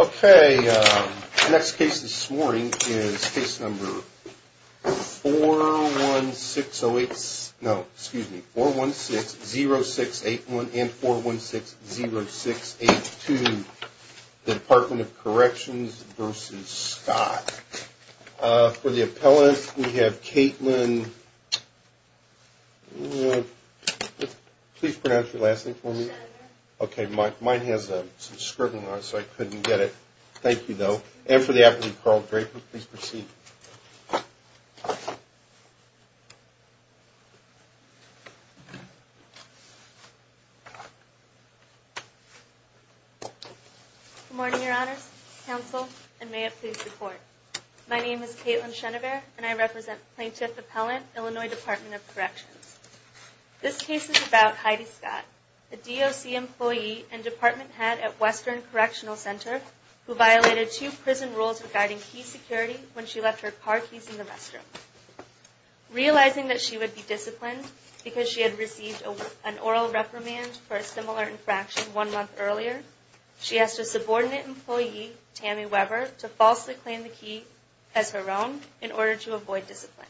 Okay, the next case this morning is case number 41608, no, excuse me, 4160681 and 4160682, Department of Corrections v. Scott. For the appellant, we have Kaitlyn, please pronounce your last name for me. Okay, mine has a scribble on it so I couldn't get it. Thank you though. And for the appellant, Carl Draper, please proceed. Good morning, Your Honors, Counsel, and may it please report. My name is Kaitlyn Chenever and I represent Plaintiff Appellant, Illinois Department of Corrections. This case is about Heidi Scott, a DOC employee and department head at Western Correctional Center who violated two prison rules regarding key security when she left her car keys in the restroom. Realizing that she would be disciplined because she had received an oral reprimand for a similar infraction one month earlier, she asked a subordinate employee, Tammy Weber, to falsely claim the key as her own in order to avoid discipline.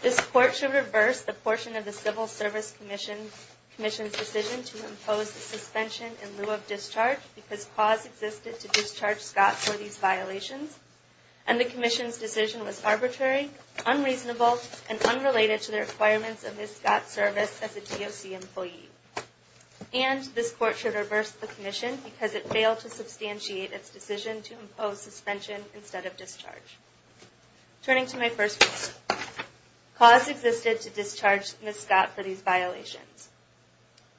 This court should reverse the portion of the Civil Service Commission's decision to impose a suspension in lieu of discharge because cause existed to discharge Scott for these violations. And the Commission's decision was arbitrary, unreasonable, and unrelated to the requirements of Ms. Scott's service as a DOC employee. And this court should reverse the Commission because it failed to substantiate its decision to impose suspension instead of discharge. Turning to my first case, cause existed to discharge Ms. Scott for these violations.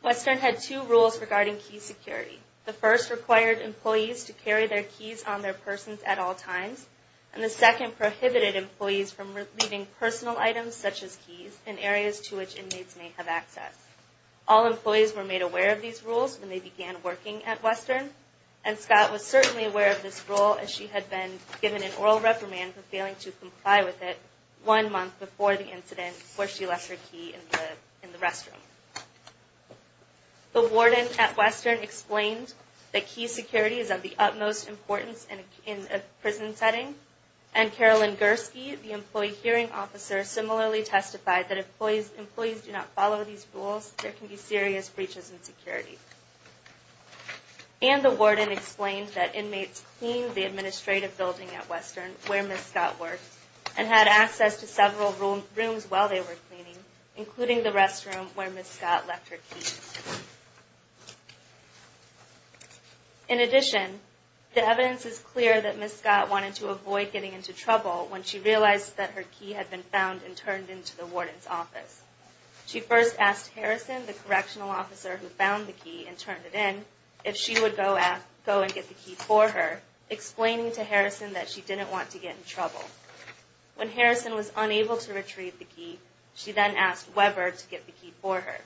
Western had two rules regarding key security. The first required employees to carry their keys on their persons at all times. And the second prohibited employees from leaving personal items, such as keys, in areas to which inmates may have access. All employees were made aware of these rules when they began working at Western. And Scott was certainly aware of this rule as she had been given an oral reprimand for failing to comply with it one month before the incident where she left her key in the restroom. The warden at Western explained that key security is of the utmost importance in a prison setting. And Carolyn Gursky, the employee hearing officer, similarly testified that if employees do not follow these rules, there can be serious breaches in security. And the warden explained that inmates cleaned the administrative building at Western, where Ms. Scott worked, and had access to several rooms while they were cleaning, including the restroom where Ms. Scott left her keys. In addition, the evidence is clear that Ms. Scott wanted to avoid getting into trouble when she realized that her key had been found and turned into the warden's office. She first asked Harrison, the correctional officer who found the key and turned it in, if she would go and get the key for her, explaining to Harrison that she didn't want to get in trouble. When Harrison was unable to retrieve the key, she then asked Weber to get the key for her.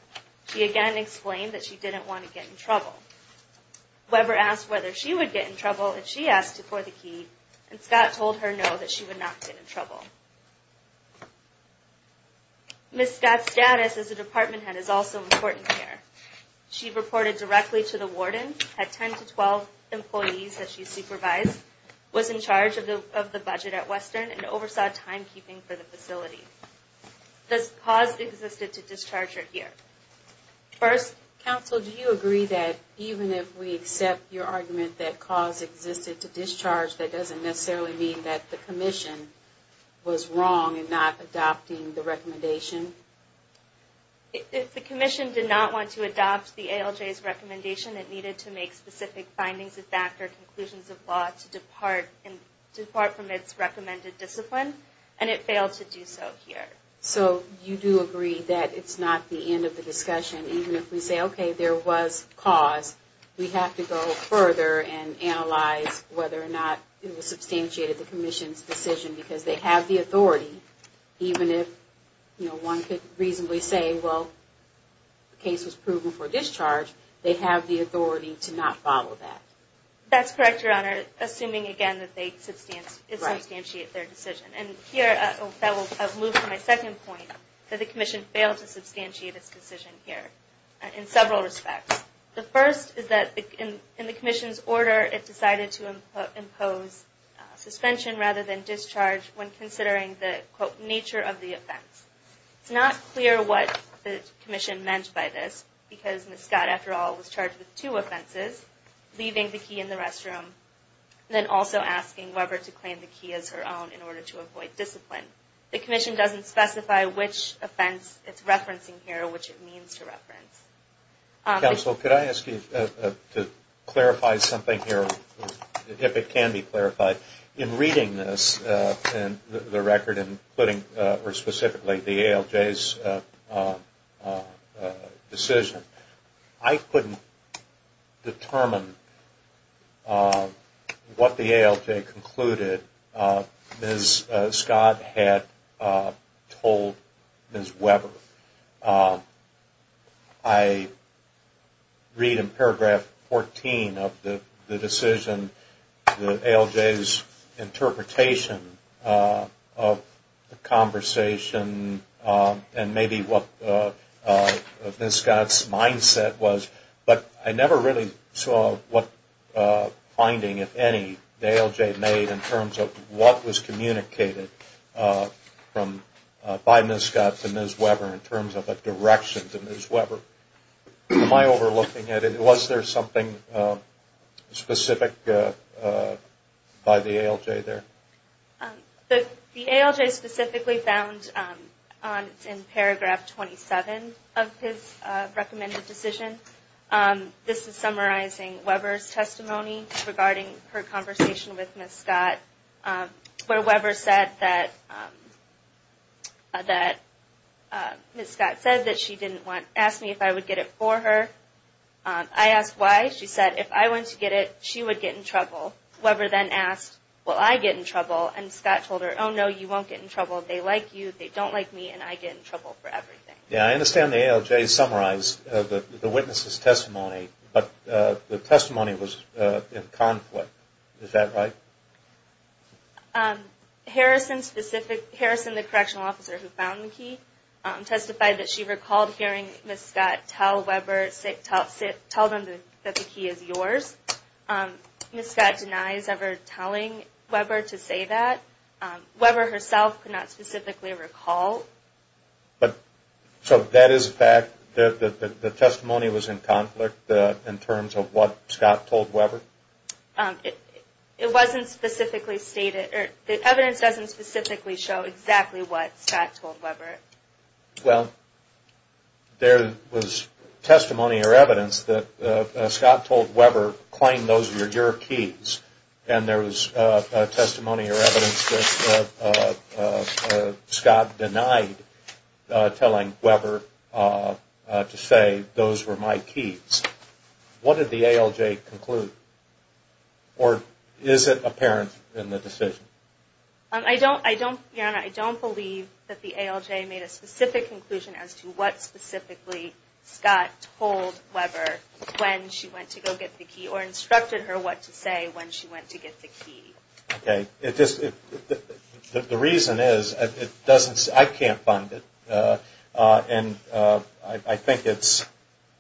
She again explained that she didn't want to get in trouble. Weber asked whether she would get in trouble if she asked for the key, and Scott told her no, that she would not get in trouble. Ms. Scott's status as a department head is also important here. She reported directly to the warden, had 10 to 12 employees that she supervised, was in charge of the budget at Western, and oversaw timekeeping for the facility. This cause existed to discharge her here. First, counsel, do you agree that even if we accept your argument that cause existed to discharge, that doesn't necessarily mean that the commission was wrong in not adopting the recommendation? If the commission did not want to adopt the ALJ's recommendation, it needed to make specific findings of fact or conclusions of law to depart from its recommended discipline, and it failed to do so here. So you do agree that it's not the end of the discussion, even if we say, okay, there was cause. We have to go further and analyze whether or not it was substantiated, the commission's decision, because they have the authority, even if one could reasonably say, well, the case was proven for discharge, they have the authority to not follow that. That's correct, Your Honor, assuming, again, that they substantiate their decision. And here, I'll move to my second point, that the commission failed to substantiate its decision here in several respects. The first is that in the commission's order, it decided to impose suspension rather than discharge when considering the, quote, nature of the offense. It's not clear what the commission meant by this, because Ms. Scott, after all, was charged with two offenses, leaving the key in the restroom, then also asking Weber to claim the key as her own in order to avoid discipline. The commission doesn't specify which offense it's referencing here, or which it means to reference. Counsel, could I ask you to clarify something here, if it can be clarified? In reading this, the record, and specifically the ALJ's decision, I couldn't determine what the ALJ concluded Ms. Scott had told Ms. Weber. I read in paragraph 14 of the decision, the ALJ's interpretation of the conversation, and maybe what Ms. Scott's mindset was, but I never really saw what finding, if any, the ALJ made in terms of what was communicated by Ms. Scott to Ms. Weber. In terms of a direction to Ms. Weber. Am I overlooking it? Was there something specific by the ALJ there? The ALJ specifically found in paragraph 27 of his recommended decision, this is summarizing Weber's testimony regarding her conversation with Ms. Scott, where Weber said that Ms. Scott said that she didn't want, asked me if I would get it for her. I asked why. She said, if I went to get it, she would get in trouble. Weber then asked, will I get in trouble? And Scott told her, oh no, you won't get in trouble. They like you, they don't like me, and I get in trouble for everything. I understand the ALJ summarized the witness' testimony, but the testimony was in conflict. Is that right? Harrison, the correctional officer who found the key, testified that she recalled hearing Ms. Scott tell Weber, tell them that the key is yours. Ms. Scott denies ever telling Weber to say that. Weber herself could not specifically recall. So that is a fact that the testimony was in conflict in terms of what Scott told Weber? It wasn't specifically stated. The evidence doesn't specifically show exactly what Scott told Weber. Well, there was testimony or evidence that Scott told Weber, claim those were your keys. And there was testimony or evidence that Scott denied telling Weber to say those were my keys. What did the ALJ conclude? Or is it apparent in the decision? I don't believe that the ALJ made a specific conclusion as to what specifically Scott told Weber when she went to go get the key, or instructed her what to say when she went to get the key. Okay. The reason is, I can't find it. And I think it's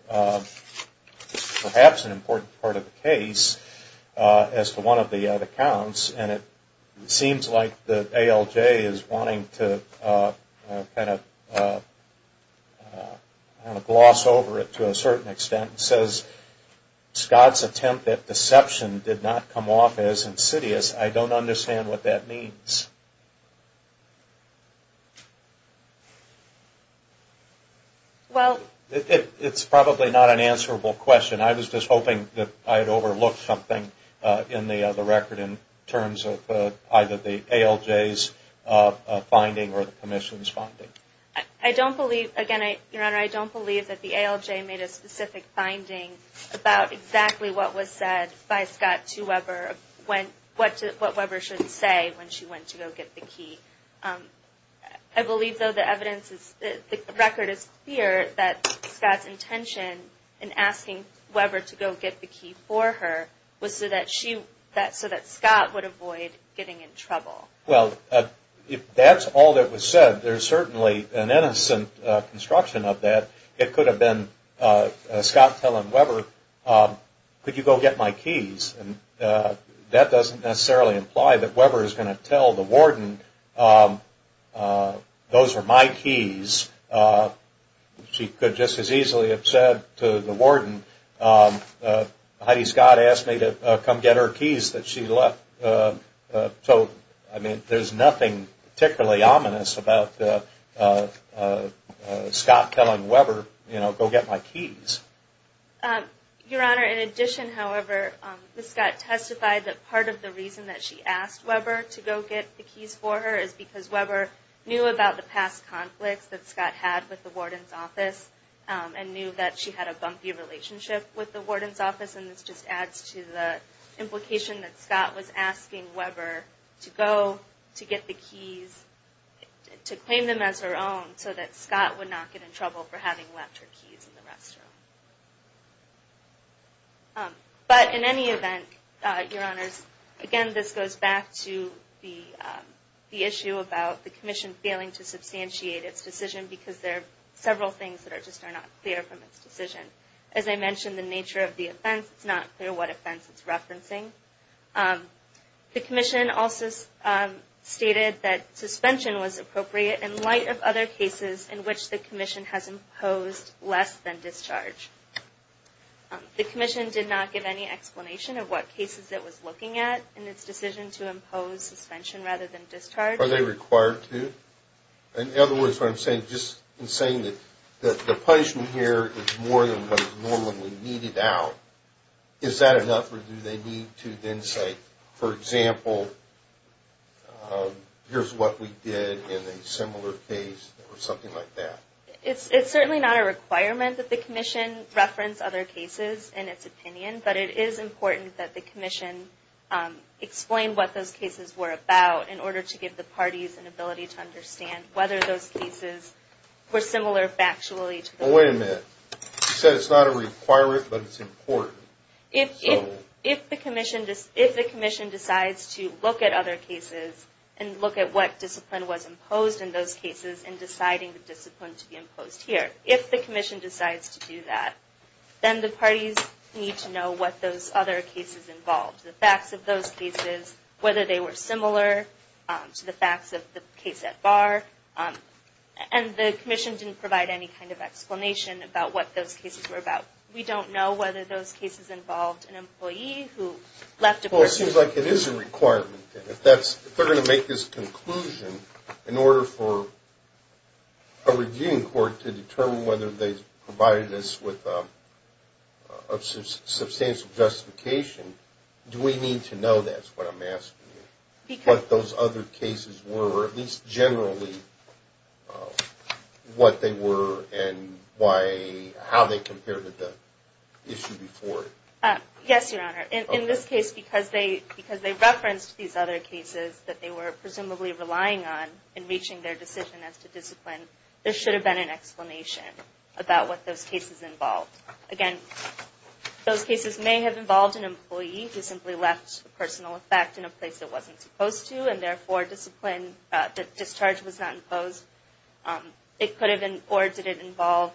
perhaps an important part of the case as to one of the accounts. And it seems like the ALJ is wanting to kind of gloss over it to a certain extent. It says Scott's attempt at deception did not come off as insidious. I don't understand what that means. It's probably not an answerable question. I was just hoping that I had overlooked something in the record in terms of either the ALJ's finding or the Commission's finding. I don't believe, again, Your Honor, I don't believe that the ALJ made a specific finding about exactly what was said by Scott to Weber. What Weber should say when she went to go get the key. I believe, though, the record is clear that Scott's intention in asking Weber to go get the key for her was so that Scott would avoid getting in trouble. Well, if that's all that was said, there's certainly an innocent construction of that. It could have been Scott telling Weber, could you go get my keys? And that doesn't necessarily imply that Weber is going to tell the warden those are my keys. She could just as easily have said to the warden, Heidi Scott asked me to come get her keys that she left. I mean, there's nothing particularly ominous about Scott telling Weber, you know, go get my keys. Your Honor, in addition, however, Scott testified that part of the reason that she asked Weber to go get the keys for her is because Weber knew about the past conflicts that Scott had with the warden's office and knew that she had a bumpy relationship with the warden's office. And this just adds to the implication that Scott was asking Weber to go to get the keys, to claim them as her own, so that Scott would not get in trouble for having left her keys in the restroom. But in any event, Your Honors, again, this goes back to the issue about the commission failing to substantiate its decision because there are several things that are just not clear from its decision. As I mentioned, the nature of the offense, it's not clear what offense it's referencing. The commission also stated that suspension was appropriate in light of other cases in which the commission has imposed less than discharge. The commission did not give any explanation of what cases it was looking at in its decision to impose suspension rather than discharge. Are they required to? In other words, what I'm saying, just in saying that the punishment here is more than what is normally needed out, is that enough or do they need to then say, for example, here's what we did in a similar case or something like that? It's certainly not a requirement that the commission reference other cases in its opinion, but it is important that the commission explain what those cases were about in order to give the parties an ability to understand whether those cases were similar factually. Wait a minute. You said it's not a requirement, but it's important. If the commission decides to look at other cases and look at what discipline was imposed in those cases and deciding the discipline to be imposed here, if the commission decides to do that, then the parties need to know what those other cases involved, the facts of those cases, whether they were similar to the facts of the case at bar. And the commission didn't provide any kind of explanation about what those cases were about. We don't know whether those cases involved an employee who left a post. It seems like it is a requirement. If they're going to make this conclusion in order for a reviewing court to determine whether they provided us with a substantial justification, do we need to know that is what I'm asking you, what those other cases were, or at least generally what they were and how they compared to the issue before it? Yes, Your Honor. In this case, because they referenced these other cases that they were presumably relying on in reaching their decision as to discipline, there should have been an explanation about what those cases involved. Again, those cases may have involved an employee who simply left a personal effect in a place it wasn't supposed to and therefore the discharge was not imposed. Or did it involve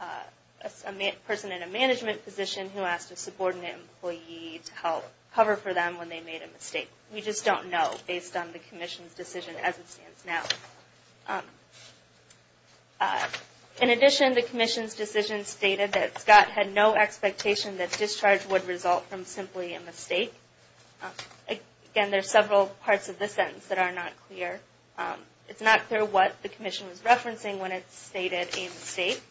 a person in a management position who asked a subordinate employee to help cover for them when they made a mistake? We just don't know based on the commission's decision as it stands now. In addition, the commission's decision stated that Scott had no expectation that discharge would result from simply a mistake. Again, there are several parts of this sentence that are not clear. It's not clear what the commission was referencing when it stated a mistake.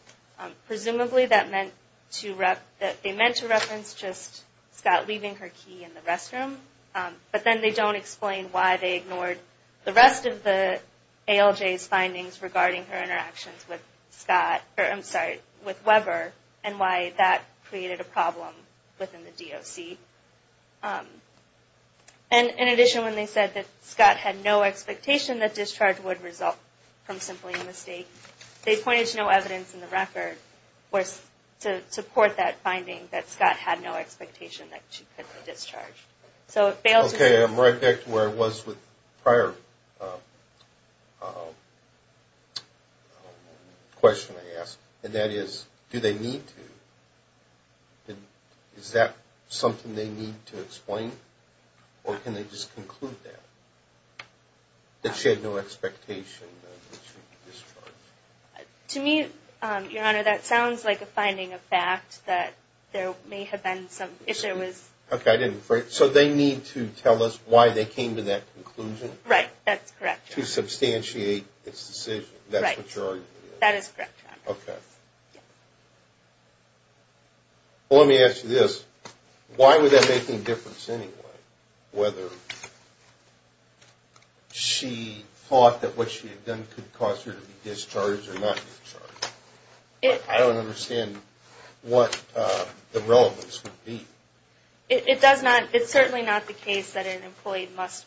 Presumably that meant to reference just Scott leaving her key in the restroom, but then they don't explain why they ignored the rest of the ALJ's findings regarding her interactions with Scott, I'm sorry, with Weber, and why that created a problem within the DOC. And in addition, when they said that Scott had no expectation that discharge would result from simply a mistake, they pointed to no evidence in the record to support that finding that Scott had no expectation that she could be discharged. Okay, I'm right back to where I was with the prior question I asked, and that is, do they need to? Is that something they need to explain, or can they just conclude that, that she had no expectation that she would be discharged? To me, Your Honor, that sounds like a finding of fact, that there may have been some issue. Okay, so they need to tell us why they came to that conclusion? Right, that's correct. To substantiate its decision, that's what you're arguing? Right, that is correct, Your Honor. Okay. Well, let me ask you this. Why would that make any difference anyway, whether she thought that what she had done could cause her to be discharged or not be discharged? I don't understand what the relevance would be. It does not. It's certainly not the case that an employee must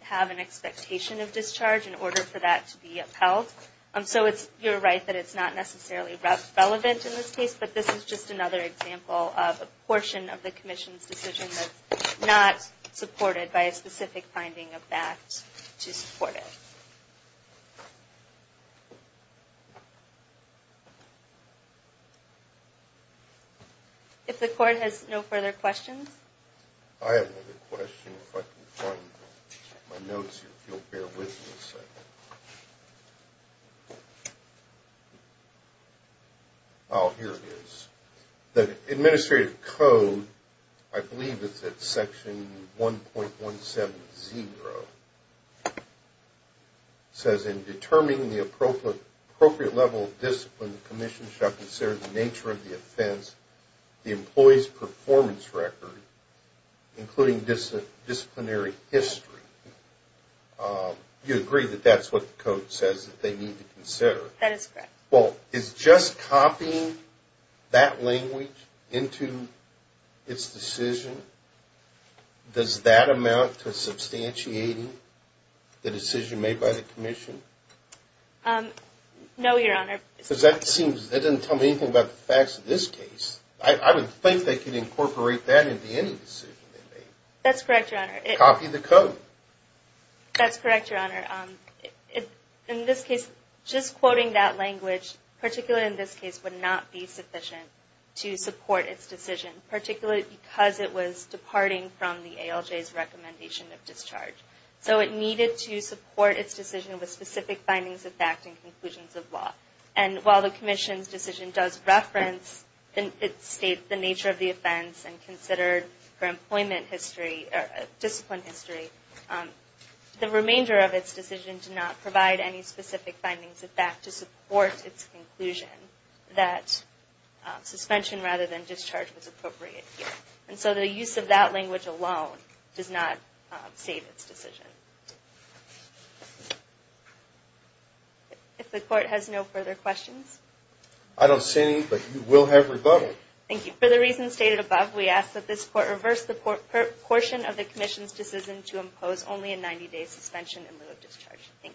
have an expectation of discharge in order for that to be upheld. So you're right that it's not necessarily relevant in this case, but this is just another example of a portion of the Commission's decision that's not supported by a specific finding of fact to support it. If the Court has no further questions? I have another question, if I can find my notes here, if you'll bear with me a second. Oh, here it is. The Administrative Code, I believe it's at Section 1.170, says, In determining the appropriate level of discipline, the Commission shall consider the nature of the offense, the employee's performance record, including disciplinary history. You agree that that's what the Code says that they need to consider? That is correct. Well, is just copying that language into its decision, does that amount to substantiating the decision made by the Commission? No, Your Honor. Because that doesn't tell me anything about the facts of this case. I would think they could incorporate that into any decision they made. That's correct, Your Honor. Copy the Code. That's correct, Your Honor. In this case, just quoting that language, particularly in this case, would not be sufficient to support its decision. Particularly because it was departing from the ALJ's recommendation of discharge. So it needed to support its decision with specific findings of fact and conclusions of law. And while the Commission's decision does reference and state the nature of the offense and considered for employment history or discipline history, the remainder of its decision did not provide any specific findings of fact to support its conclusion that suspension rather than discharge was appropriate here. And so the use of that language alone does not state its decision. If the Court has no further questions? I don't see any, but you will have rebuttal. Thank you. For the reasons stated above, we ask that this Court reverse the portion of the Commission's decision to impose only a 90-day suspension in lieu of discharge. Thank you.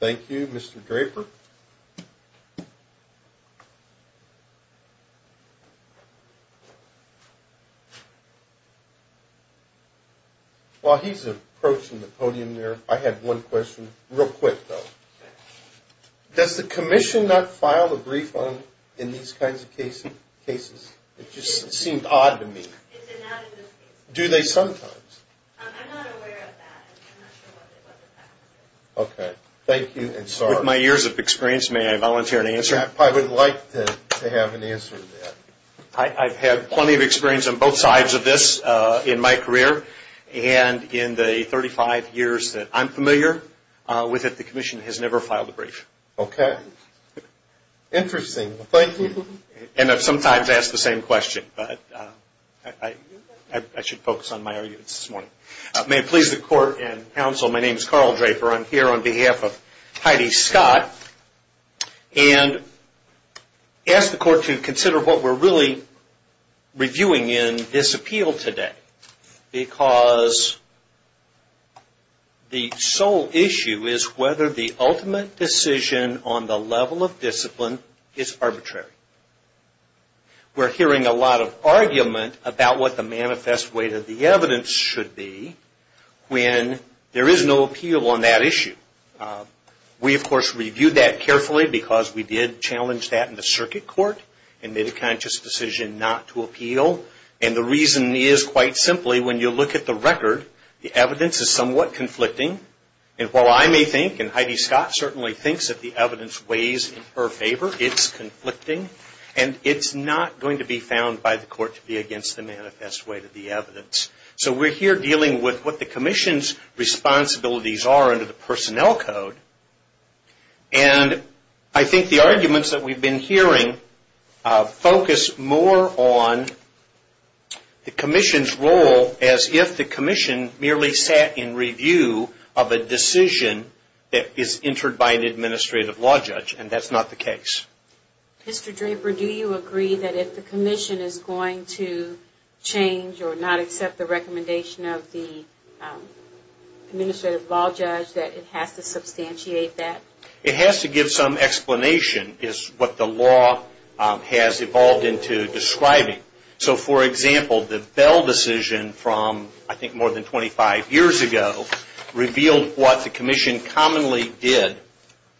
Thank you, Mr. Draper. Thank you. While he's approaching the podium there, I have one question. Real quick, though. Does the Commission not file a brief on in these kinds of cases? It just seemed odd to me. Is it not in this case? Do they sometimes? I'm not aware of that. I'm not sure what the facts are. Okay. Thank you. With my years of experience, may I volunteer an answer? I would like to have an answer to that. I've had plenty of experience on both sides of this in my career. And in the 35 years that I'm familiar with it, the Commission has never filed a brief. Okay. Interesting. Thank you. And I've sometimes asked the same question, but I should focus on my arguments this morning. May it please the Court and counsel, my name is Carl Draper. I'm here on behalf of Heidi Scott. And ask the Court to consider what we're really reviewing in this appeal today. Because the sole issue is whether the ultimate decision on the level of discipline is arbitrary. We're hearing a lot of argument about what the manifest weight of the evidence should be when there is no appeal on that issue. We, of course, reviewed that carefully because we did challenge that in the circuit court. And made a conscious decision not to appeal. And the reason is, quite simply, when you look at the record, the evidence is somewhat conflicting. And while I may think, and Heidi Scott certainly thinks, that the evidence weighs in her favor, it's conflicting. And it's not going to be found by the Court to be against the manifest weight of the evidence. So we're here dealing with what the Commission's responsibilities are under the personnel code. And I think the arguments that we've been hearing focus more on the Commission's role as if the Commission merely sat in review of a decision that is entered by an administrative law judge. And that's not the case. Mr. Draper, do you agree that if the Commission is going to change or not accept the recommendation of the administrative law judge, that it has to substantiate that? It has to give some explanation is what the law has evolved into describing. So, for example, the Bell decision from, I think, more than 25 years ago, revealed what the Commission commonly did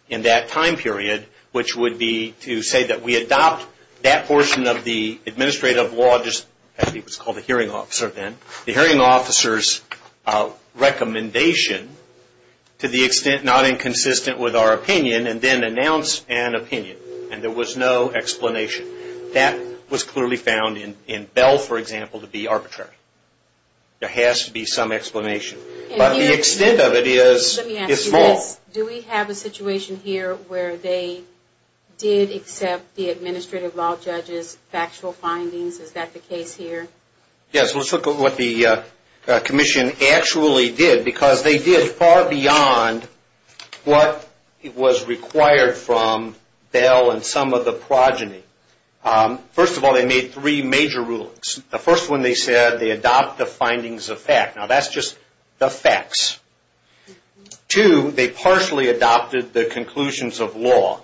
in that time period, which would be to say that we adopt that portion of the administrative law, it was called the hearing officer then, the hearing officer's recommendation, to the extent not inconsistent with our opinion, and then announce an opinion. And there was no explanation. That was clearly found in Bell, for example, to be arbitrary. There has to be some explanation. But the extent of it is small. Let me ask you this. Do we have a situation here where they did accept the administrative law judge's factual findings? Is that the case here? Yes, let's look at what the Commission actually did, because they did far beyond what was required from Bell and some of the progeny. First of all, they made three major rulings. The first one they said, they adopt the findings of fact. Now that's just the facts. Two, they partially adopted the conclusions of law.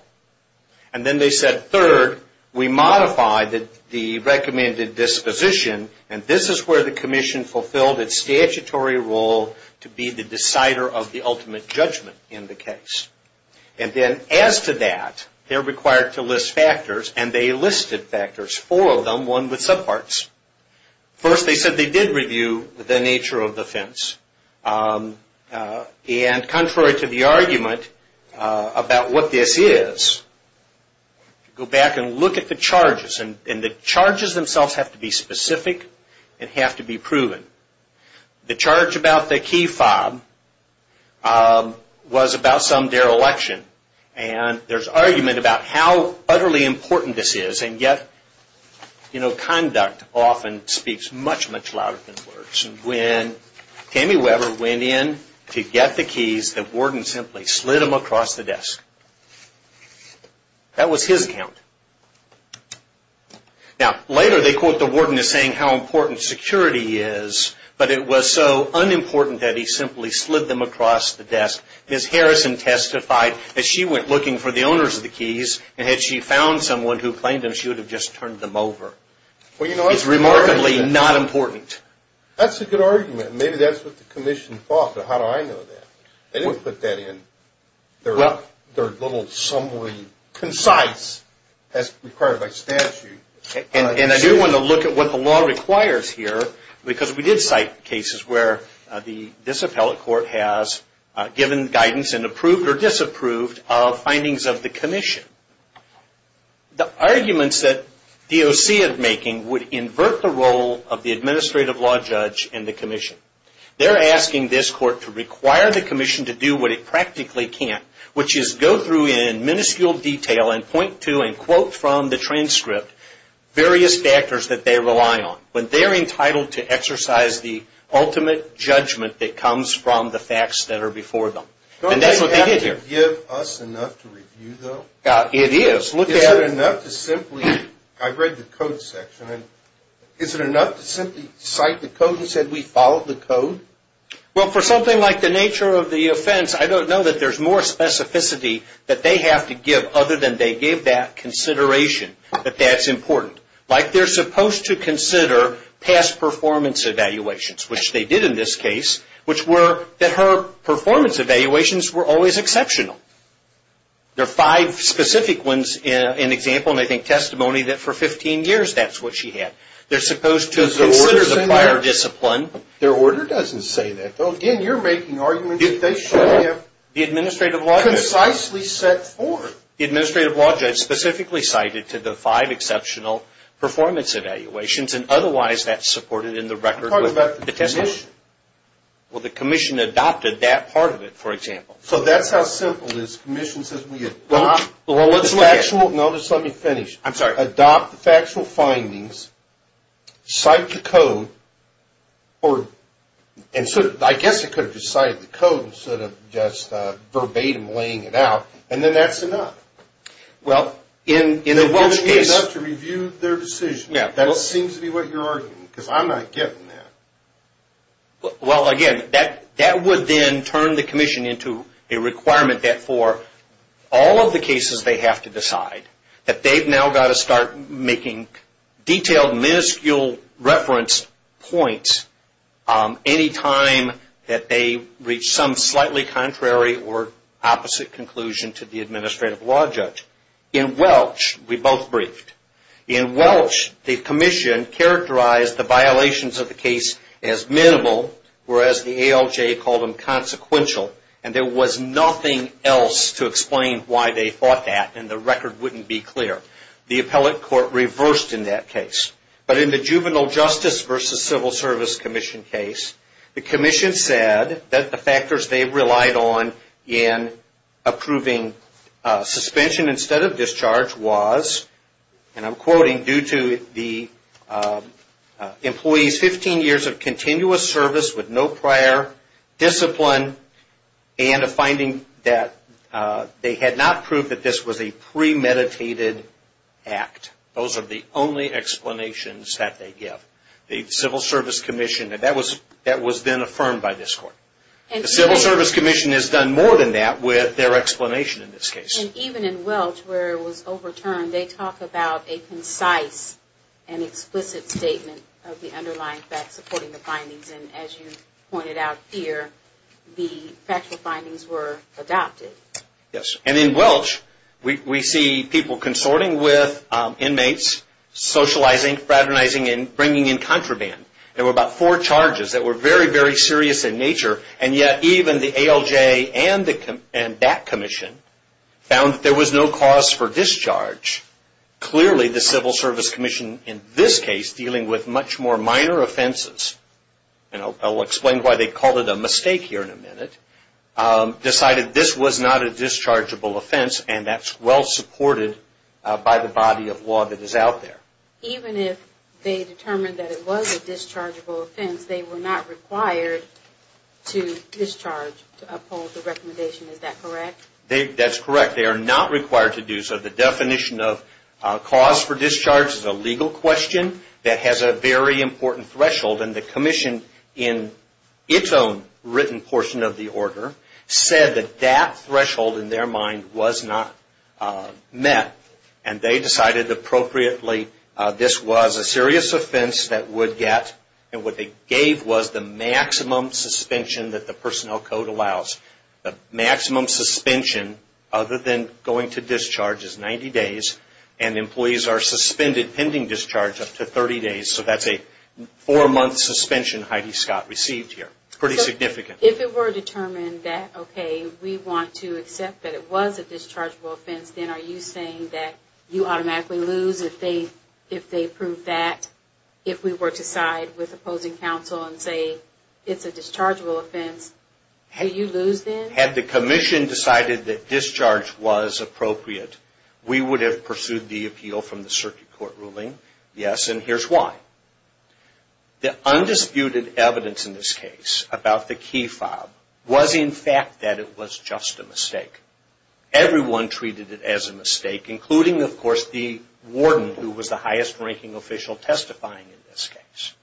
And then they said, third, we modify the recommended disposition, and this is where the Commission fulfilled its statutory role to be the decider of the ultimate judgment in the case. And then as to that, they're required to list factors, and they listed factors, four of them, one with subparts. First, they said they did review the nature of the offense, and contrary to the argument about what this is, go back and look at the charges, and the charges themselves have to be specific and have to be proven. The charge about the key fob was about some dereliction, and there's argument about how utterly important this is, and yet conduct often speaks much, much louder than words. When Tammy Weber went in to get the keys, the warden simply slid them across the desk. That was his account. Now, later they quote the warden as saying how important security is, but it was so unimportant that he simply slid them across the desk. Ms. Harrison testified that she went looking for the owners of the keys, and had she found someone who claimed them, she would have just turned them over. It's remarkably not important. That's a good argument. Maybe that's what the commission thought, but how do I know that? They didn't put that in. They're a little sumbly concise as required by statute. And I do want to look at what the law requires here, because we did cite cases where this appellate court has given guidance and approved or disapproved of findings of the commission. The arguments that DOC is making would invert the role of the administrative law judge and the commission. They're asking this court to require the commission to do what it practically can't, which is go through in minuscule detail and point to and quote from the transcript various factors that they rely on when they're entitled to exercise the ultimate judgment that comes from the facts that are before them. And that's what they did here. Don't they have to give us enough to review, though? It is. Look at it. Is it enough to simply, I've read the code section, and is it enough to simply cite the code and say we followed the code? Well, for something like the nature of the offense, I don't know that there's more specificity that they have to give other than they gave that consideration that that's important. Like they're supposed to consider past performance evaluations, which they did in this case, which were that her performance evaluations were always exceptional. There are five specific ones in example, and I think testimony, that for 15 years that's what she had. They're supposed to consider the prior discipline. Their order doesn't say that, though. Again, you're making arguments that they should have concisely set forth. The administrative law judge specifically cited to the five exceptional performance evaluations, and otherwise that's supported in the record. I'm talking about the commission. Well, the commission adopted that part of it, for example. So that's how simple it is. The commission says we adopt the factual. No, just let me finish. I'm sorry. Adopt the factual findings, cite the code, and I guess it could have just cited the code instead of just verbatim laying it out, and then that's enough. Well, in the Welch case. They're giving me enough to review their decision. That seems to be what you're arguing, because I'm not getting that. Well, again, that would then turn the commission into a requirement that for all of the cases they have to decide, that they've now got to start making detailed, minuscule reference points any time that they reach some slightly contrary or opposite conclusion to the administrative law judge. In Welch, we both briefed. In Welch, the commission characterized the violations of the case as minimal, whereas the ALJ called them consequential, and there was nothing else to explain why they thought that, and the record wouldn't be clear. The appellate court reversed in that case. But in the Juvenile Justice versus Civil Service Commission case, the commission said that the factors they relied on in approving suspension instead of discharge was, and I'm quoting, due to the employee's 15 years of continuous service with no prior discipline and a finding that they had not proved that this was a premeditated act. Those are the only explanations that they give. The Civil Service Commission, that was then affirmed by this court. The Civil Service Commission has done more than that with their explanation in this case. And even in Welch, where it was overturned, they talk about a concise and explicit statement of the underlying facts supporting the findings, and as you pointed out here, the factual findings were adopted. And in Welch, we see people consorting with inmates, socializing, fraternizing, and bringing in contraband. There were about four charges that were very, very serious in nature, and yet even the ALJ and that commission found that there was no cause for discharge. Clearly, the Civil Service Commission in this case, dealing with much more minor offenses, and I'll explain why they called it a mistake here in a minute, decided this was not a dischargeable offense and that's well supported by the body of law that is out there. Even if they determined that it was a dischargeable offense, they were not required to discharge to uphold the recommendation. Is that correct? That's correct. They are not required to do so. The definition of cause for discharge is a legal question that has a very important threshold, and the commission in its own written portion of the order said that that threshold in their mind was not met, and they decided appropriately this was a serious offense that would get, and what they gave was the maximum suspension that the personnel code allows. The maximum suspension other than going to discharge is 90 days, and employees are suspended pending discharge up to 30 days, so that's a four-month suspension Heidi Scott received here. It's pretty significant. If it were determined that, okay, we want to accept that it was a dischargeable offense, then are you saying that you automatically lose if they prove that? If we were to side with opposing counsel and say it's a dischargeable offense, do you lose then? Had the commission decided that discharge was appropriate, we would have pursued the appeal from the circuit court ruling, yes, and here's why. The undisputed evidence in this case about the key fob was, in fact, that it was just a mistake. Everyone treated it as a mistake, including, of course, the warden, who was the highest ranking official testifying in this case.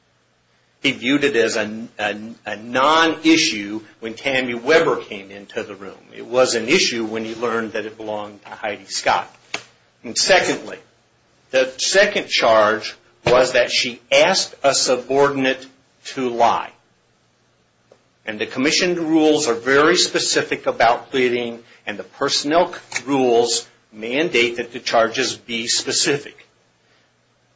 He viewed it as a non-issue when Tammy Weber came into the room. It was an issue when he learned that it belonged to Heidi Scott. Secondly, the second charge was that she asked a subordinate to lie, and the commission rules are very specific about pleading, and the personnel rules mandate that the charges be specific.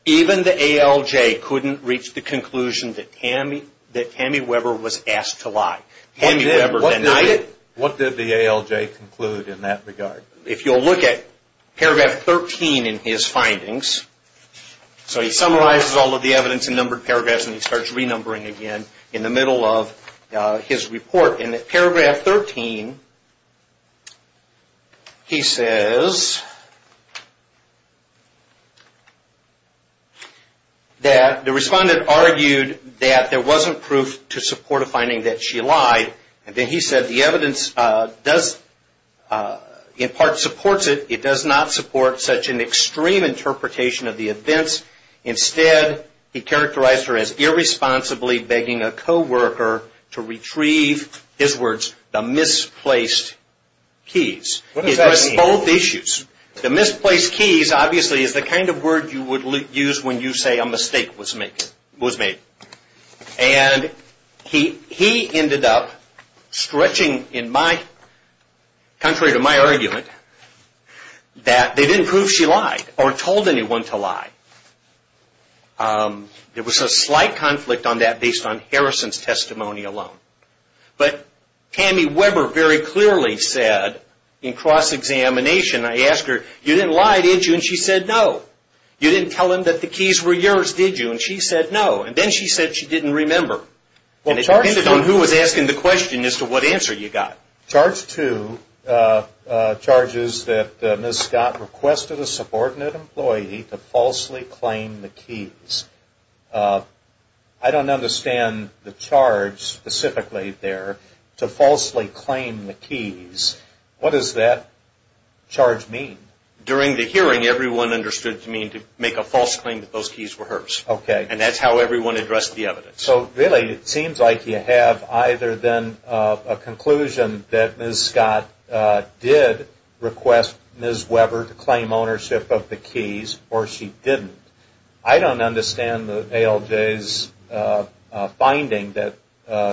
Even the ALJ couldn't reach the conclusion that Tammy Weber was asked to lie. Tammy Weber denied it. What did the ALJ conclude in that regard? If you'll look at paragraph 13 in his findings, so he summarizes all of the evidence in numbered paragraphs, and he starts renumbering again in the middle of his report. In paragraph 13, he says that the respondent argued that there wasn't proof to support a finding that she lied, and then he said the evidence, in part, supports it. It does not support such an extreme interpretation of the events. Instead, he characterized her as irresponsibly begging a co-worker to retrieve, his words, the misplaced keys. It was both issues. The misplaced keys, obviously, is the kind of word you would use when you say a mistake was made. He ended up stretching, contrary to my argument, that they didn't prove she lied or told anyone to lie. There was a slight conflict on that based on Harrison's testimony alone. But Tammy Weber very clearly said, in cross-examination, I asked her, you didn't lie, did you? And she said, no. And then she said she didn't remember. It depended on who was asking the question as to what answer you got. Charge 2 charges that Ms. Scott requested a subordinate employee to falsely claim the keys. I don't understand the charge specifically there, to falsely claim the keys. What does that charge mean? During the hearing, everyone understood it to mean to make a false claim that those keys were hers. Okay. And that's how everyone addressed the evidence. So, really, it seems like you have either then a conclusion that Ms. Scott did request Ms. Weber to claim ownership of the keys or she didn't. I don't understand the ALJ's finding that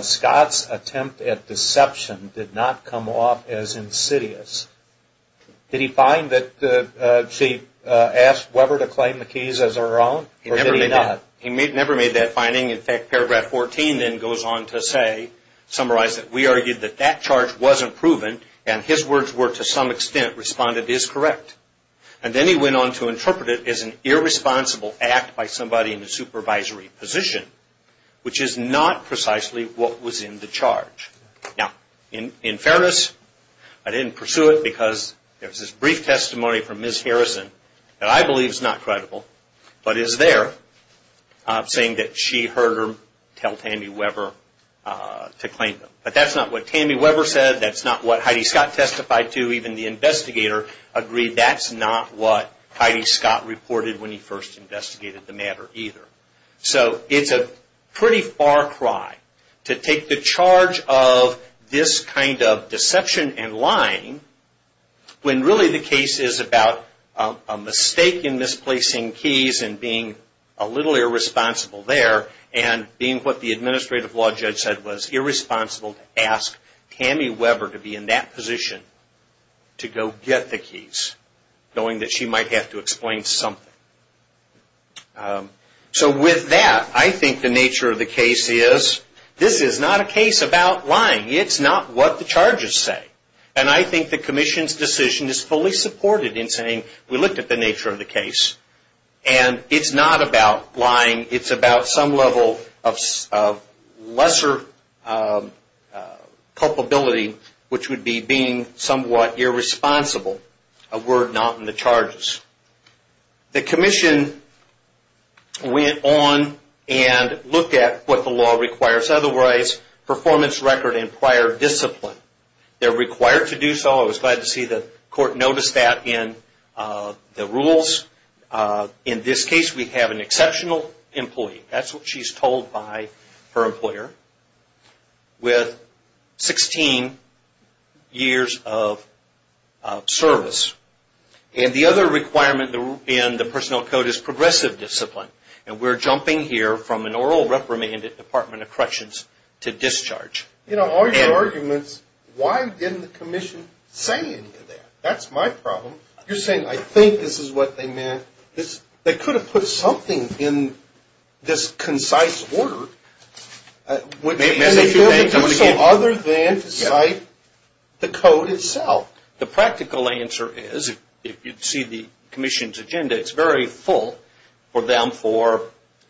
Scott's attempt at deception did not come off as insidious. Did he find that she asked Weber to claim the keys as her own or did he not? He never made that finding. In fact, Paragraph 14 then goes on to say, summarize, that we argued that that charge wasn't proven and his words were to some extent responded as correct. And then he went on to interpret it as an irresponsible act by somebody in a supervisory position, which is not precisely what was in the charge. Now, in fairness, I didn't pursue it because there was this brief testimony from Ms. Harrison that I believe is not credible, but is there, saying that she heard him tell Tammy Weber to claim them. But that's not what Tammy Weber said. That's not what Heidi Scott testified to. Even the investigator agreed that's not what Heidi Scott reported when he first investigated the matter either. So it's a pretty far cry to take the charge of this kind of deception and lying when really the case is about a mistake in misplacing keys and being a little irresponsible there and being what the administrative law judge said was irresponsible to ask Tammy Weber to be in that position to go get the keys, knowing that she might have to explain something. So with that, I think the nature of the case is, this is not a case about lying. It's not what the charges say. And I think the commission's decision is fully supported in saying, we looked at the nature of the case, and it's not about lying. It's about some level of lesser culpability, which would be being somewhat irresponsible, a word not in the charges. The commission went on and looked at what the law requires. Otherwise, performance record and prior discipline. They're required to do so. I was glad to see the court noticed that in the rules. In this case, we have an exceptional employee. That's what she's told by her employer, with 16 years of service. And the other requirement in the personnel code is progressive discipline. And we're jumping here from an oral reprimand at Department of Corrections to discharge. You know, all your arguments, why didn't the commission say any of that? That's my problem. You're saying, I think this is what they meant. They could have put something in this concise order. They could have done so other than to cite the code itself. The practical answer is, if you see the commission's agenda, it's very full for them for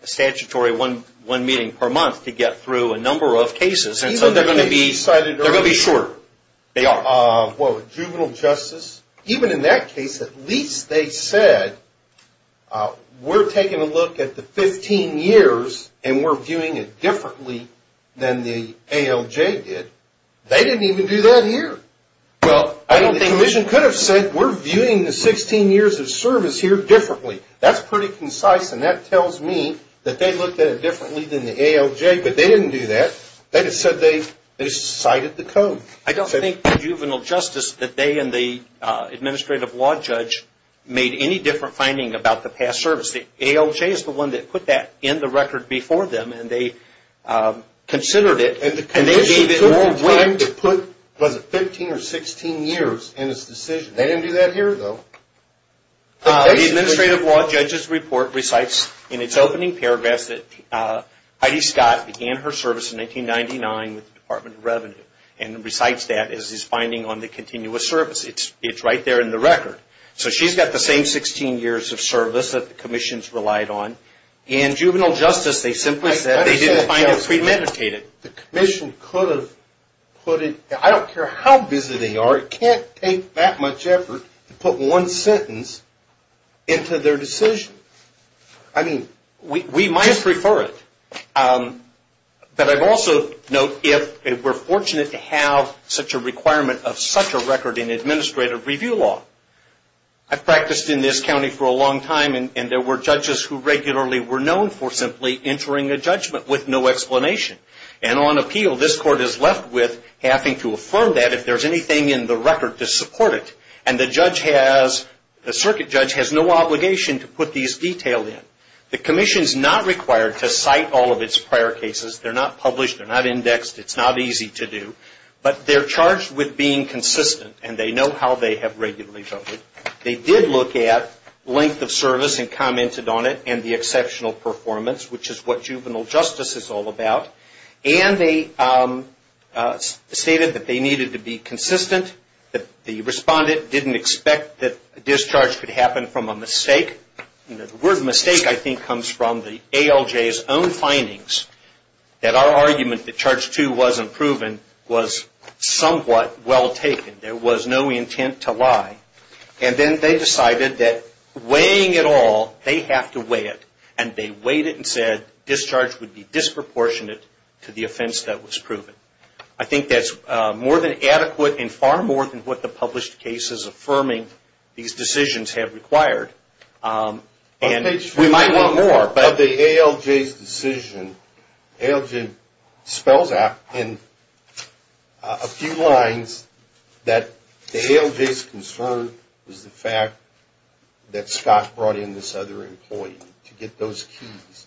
a statutory one meeting per month to get through a number of cases. So they're going to be shorter. Juvenile justice, even in that case, at least they said, we're taking a look at the 15 years and we're viewing it differently than the ALJ did. They didn't even do that here. Well, the commission could have said, we're viewing the 16 years of service here differently. That's pretty concise and that tells me that they looked at it differently than the ALJ, but they didn't do that. They just said they cited the code. I don't think the juvenile justice, that they and the administrative law judge, made any different finding about the past service. The ALJ is the one that put that in the record before them and they considered it. And the commission took the time to put, was it 15 or 16 years in its decision. They didn't do that here, though. The administrative law judge's report recites in its opening paragraphs that Heidi Scott began her service in 1999 with the Department of Revenue and recites that as his finding on the continuous service. It's right there in the record. So she's got the same 16 years of service that the commissions relied on. In juvenile justice, they simply said they didn't find it premeditated. The commission could have put it, I don't care how busy they are, it can't take that much effort to put one sentence into their decision. I mean, we might prefer it. But I'd also note if we're fortunate to have such a requirement of such a record in administrative review law. I've practiced in this county for a long time and there were judges who regularly were known for simply entering a judgment with no explanation. And on appeal, this court is left with having to affirm that if there's anything in the record to support it. And the judge has, the circuit judge has no obligation to put these details in. The commission's not required to cite all of its prior cases. They're not published. They're not indexed. It's not easy to do. But they're charged with being consistent and they know how they have regularly voted. They did look at length of service and commented on it and the exceptional performance, which is what juvenile justice is all about. And they stated that they needed to be consistent. The respondent didn't expect that discharge could happen from a mistake. The word mistake, I think, comes from the ALJ's own findings that our argument that charge two wasn't proven was somewhat well taken. There was no intent to lie. And then they decided that weighing it all, they have to weigh it. And they weighed it and said discharge would be disproportionate to the offense that was proven. I think that's more than adequate and far more than what the published cases affirming these decisions have required. And we might want more. About the ALJ's decision, ALJ spells out in a few lines that the ALJ's concern was the fact that Scott brought in this other employee to get those keys,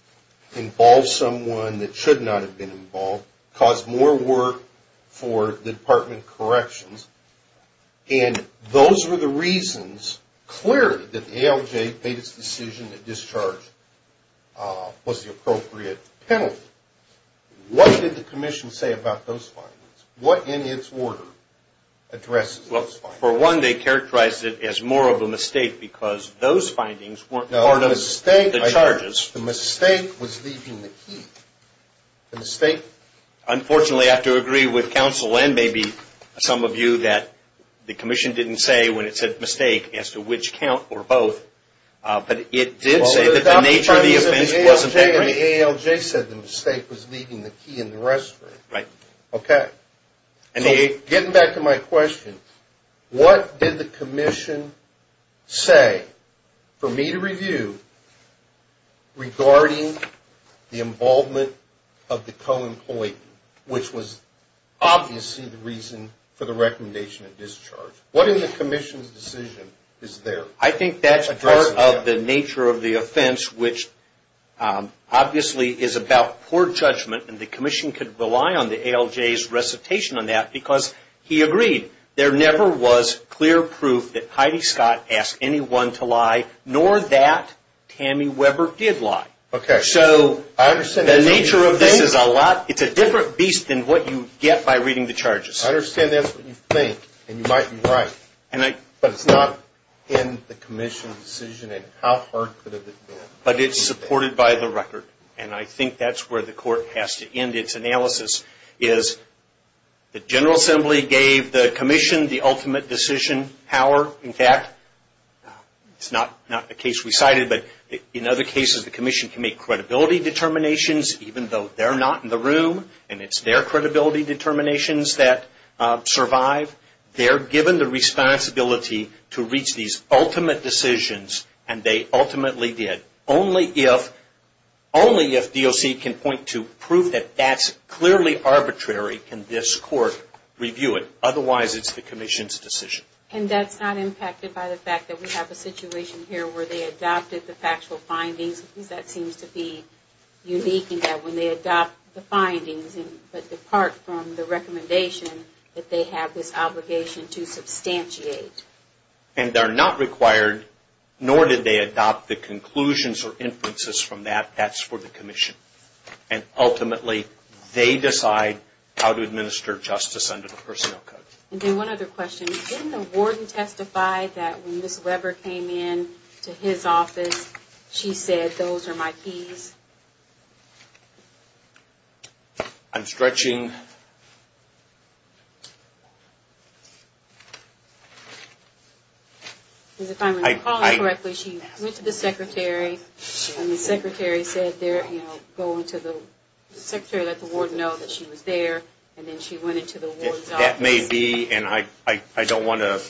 involved someone that should not have been involved, caused more work for the Department of Corrections. And those were the reasons, clearly, that the ALJ made its decision that discharge was the appropriate penalty. What did the commission say about those findings? What in its order addresses those findings? Well, for one, they characterized it as more of a mistake because those findings weren't part of the charges. The mistake was leaving the key. Unfortunately, I have to agree with counsel and maybe some of you that the commission didn't say when it said mistake as to which count or both. But it did say that the nature of the offense wasn't that great. The ALJ said the mistake was leaving the key in the restroom. Right. Okay. Getting back to my question, what did the commission say for me to review regarding the involvement of the co-employee, which was obviously the reason for the recommendation of discharge? What in the commission's decision is there? I think that's part of the nature of the offense, which obviously is about poor judgment. And the commission could rely on the ALJ's recitation on that because he agreed there never was clear proof that Heidi Scott asked anyone to lie, nor that Tammy Weber did lie. Okay. So the nature of this is a lot – it's a different beast than what you get by reading the charges. I understand that's what you think and you might be right. But it's not in the commission's decision and how hard could it have been? But it's supported by the record. And I think that's where the court has to end its analysis is the General Assembly gave the commission the ultimate decision power. In fact, it's not a case we cited, but in other cases the commission can make credibility determinations even though they're not in the room and it's their credibility determinations that survive. They're given the responsibility to reach these ultimate decisions and they ultimately did. Only if DOC can point to proof that that's clearly arbitrary can this court review it. Otherwise, it's the commission's decision. And that's not impacted by the fact that we have a situation here where they adopted the factual findings? Because that seems to be unique in that when they adopt the findings but depart from the recommendation that they have this obligation to substantiate. And they're not required, nor did they adopt the conclusions or inferences from that. That's for the commission. And ultimately, they decide how to administer justice under the personnel code. And then one other question. Didn't the warden testify that when Ms. Weber came in to his office, she said, those are my keys? I'm stretching. If I'm recalling correctly, she went to the secretary and the secretary said, you know, go into the, the secretary let the warden know that she was there and then she went into the warden's office. That may be, and I don't want to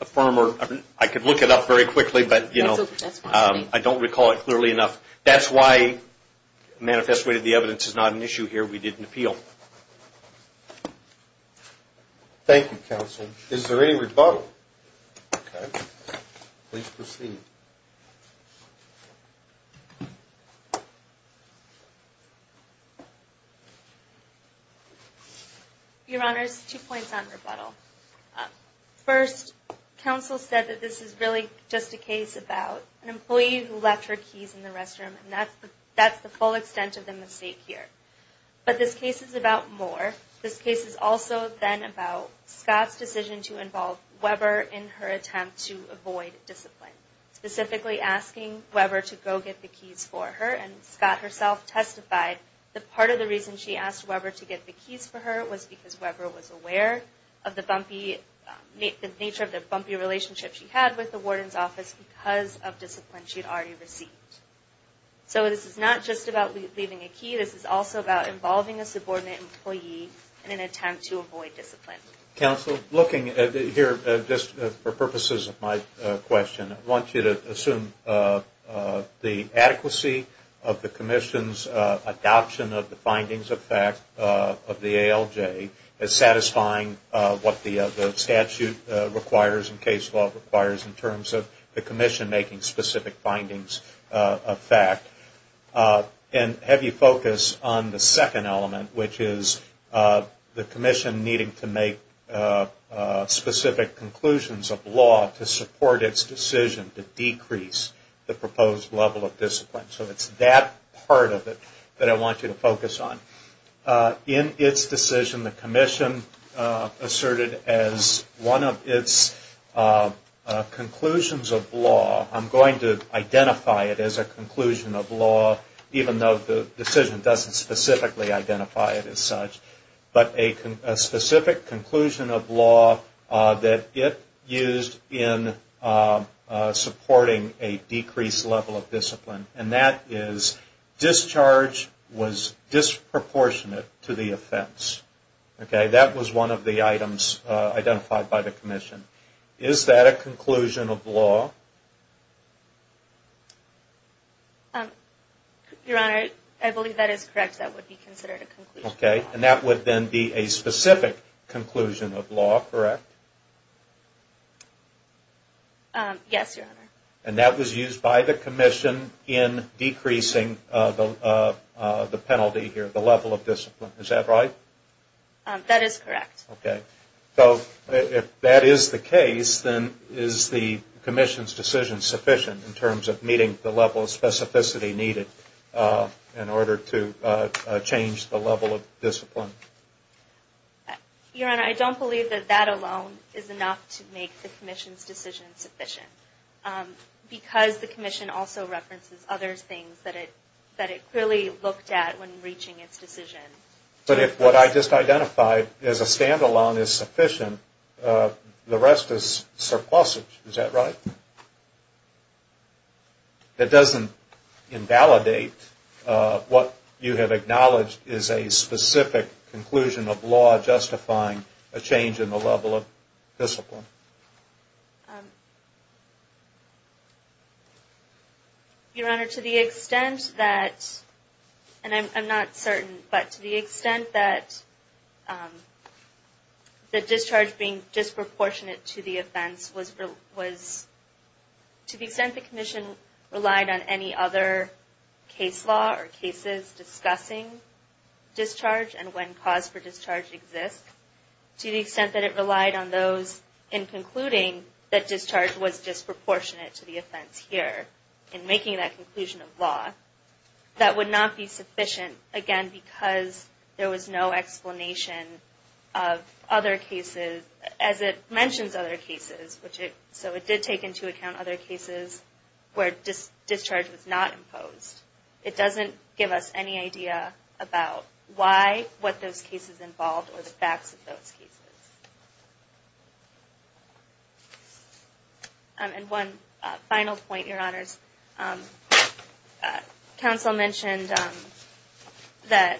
affirm or, I could look it up very quickly, but, you know, I don't recall it clearly enough. That's why manifest way to the evidence is not an issue here. We didn't appeal. Thank you, counsel. Is there any rebuttal? Please proceed. Your honors, two points on rebuttal. First, counsel said that this is really just a case about an employee who left her keys in the restroom. And that's the full extent of the mistake here. But this case is about more. This case is also then about Scott's decision to involve Weber in her attempt to avoid discipline. Specifically asking Weber to go get the keys for her. And Scott herself testified that part of the reason she asked Weber to get the keys for her was because Weber was aware of the bumpy, the nature of the bumpy relationship she had with the warden's office because of discipline she had already received. So this is not just about leaving a key. This is also about involving a subordinate employee in an attempt to avoid discipline. Counsel, looking here just for purposes of my question, I want you to assume the adequacy of the commission's adoption of the findings of fact of the ALJ as satisfying what the statute requires and case law requires in terms of the commission making specific findings of fact. And have you focus on the second element, which is the commission needing to make specific conclusions of law to support its decision to decrease the proposed level of discipline. So it's that part of it that I want you to focus on. In its decision, the commission asserted as one of its conclusions of law, I'm going to identify it as a conclusion of law, even though the decision doesn't specifically identify it as such, but a specific conclusion of law that it used in supporting a decreased level of discipline. And that is discharge was disproportionate to the offense. Okay? That was one of the items identified by the commission. Is that a conclusion of law? Your Honor, I believe that is correct. That would be considered a conclusion of law. Okay. And that would then be a specific conclusion of law, correct? Yes, Your Honor. And that was used by the commission in decreasing the penalty here, the level of discipline. Is that right? That is correct. Okay. So if that is the case, then is the commission's decision sufficient in terms of meeting the level of specificity needed in order to change the level of discipline? Your Honor, I don't believe that that alone is enough to make the commission's decision sufficient because the commission also references other things that it clearly looked at when reaching its decision. But if what I just identified as a standalone is sufficient, the rest is surplusage. Is that right? It doesn't invalidate what you have acknowledged is a specific conclusion of law justifying a change in the level of discipline. Your Honor, to the extent that, and I'm not certain, but to the extent that the discharge being disproportionate to the offense was to the extent the commission relied on any other case law or cases discussing discharge and when cause for discharge exists, to the extent that it relied on those in concluding that discharge was disproportionate to the offense here in making that conclusion of law, that would not be sufficient, again, because there was no explanation of other cases as it mentions other cases. So it did take into account other cases where discharge was not imposed. It doesn't give us any idea about why, what those cases involved, or the facts of those cases. And one final point, Your Honors. Counsel mentioned that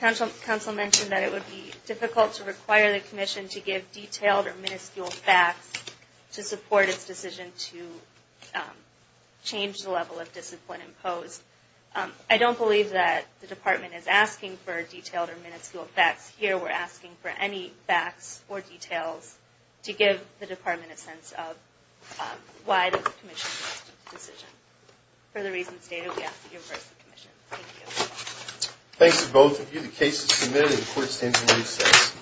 it would be difficult to require the commission to give detailed or minuscule facts to support its decision to change the level of discipline imposed. I don't believe that the department is asking for detailed or minuscule facts here. We're asking for any facts or details to give the department a sense of why the commission has to make a decision. For the reasons stated, we ask that you reverse the commission. Thank you. Thanks to both of you. The case is submitted. The court stands in recess.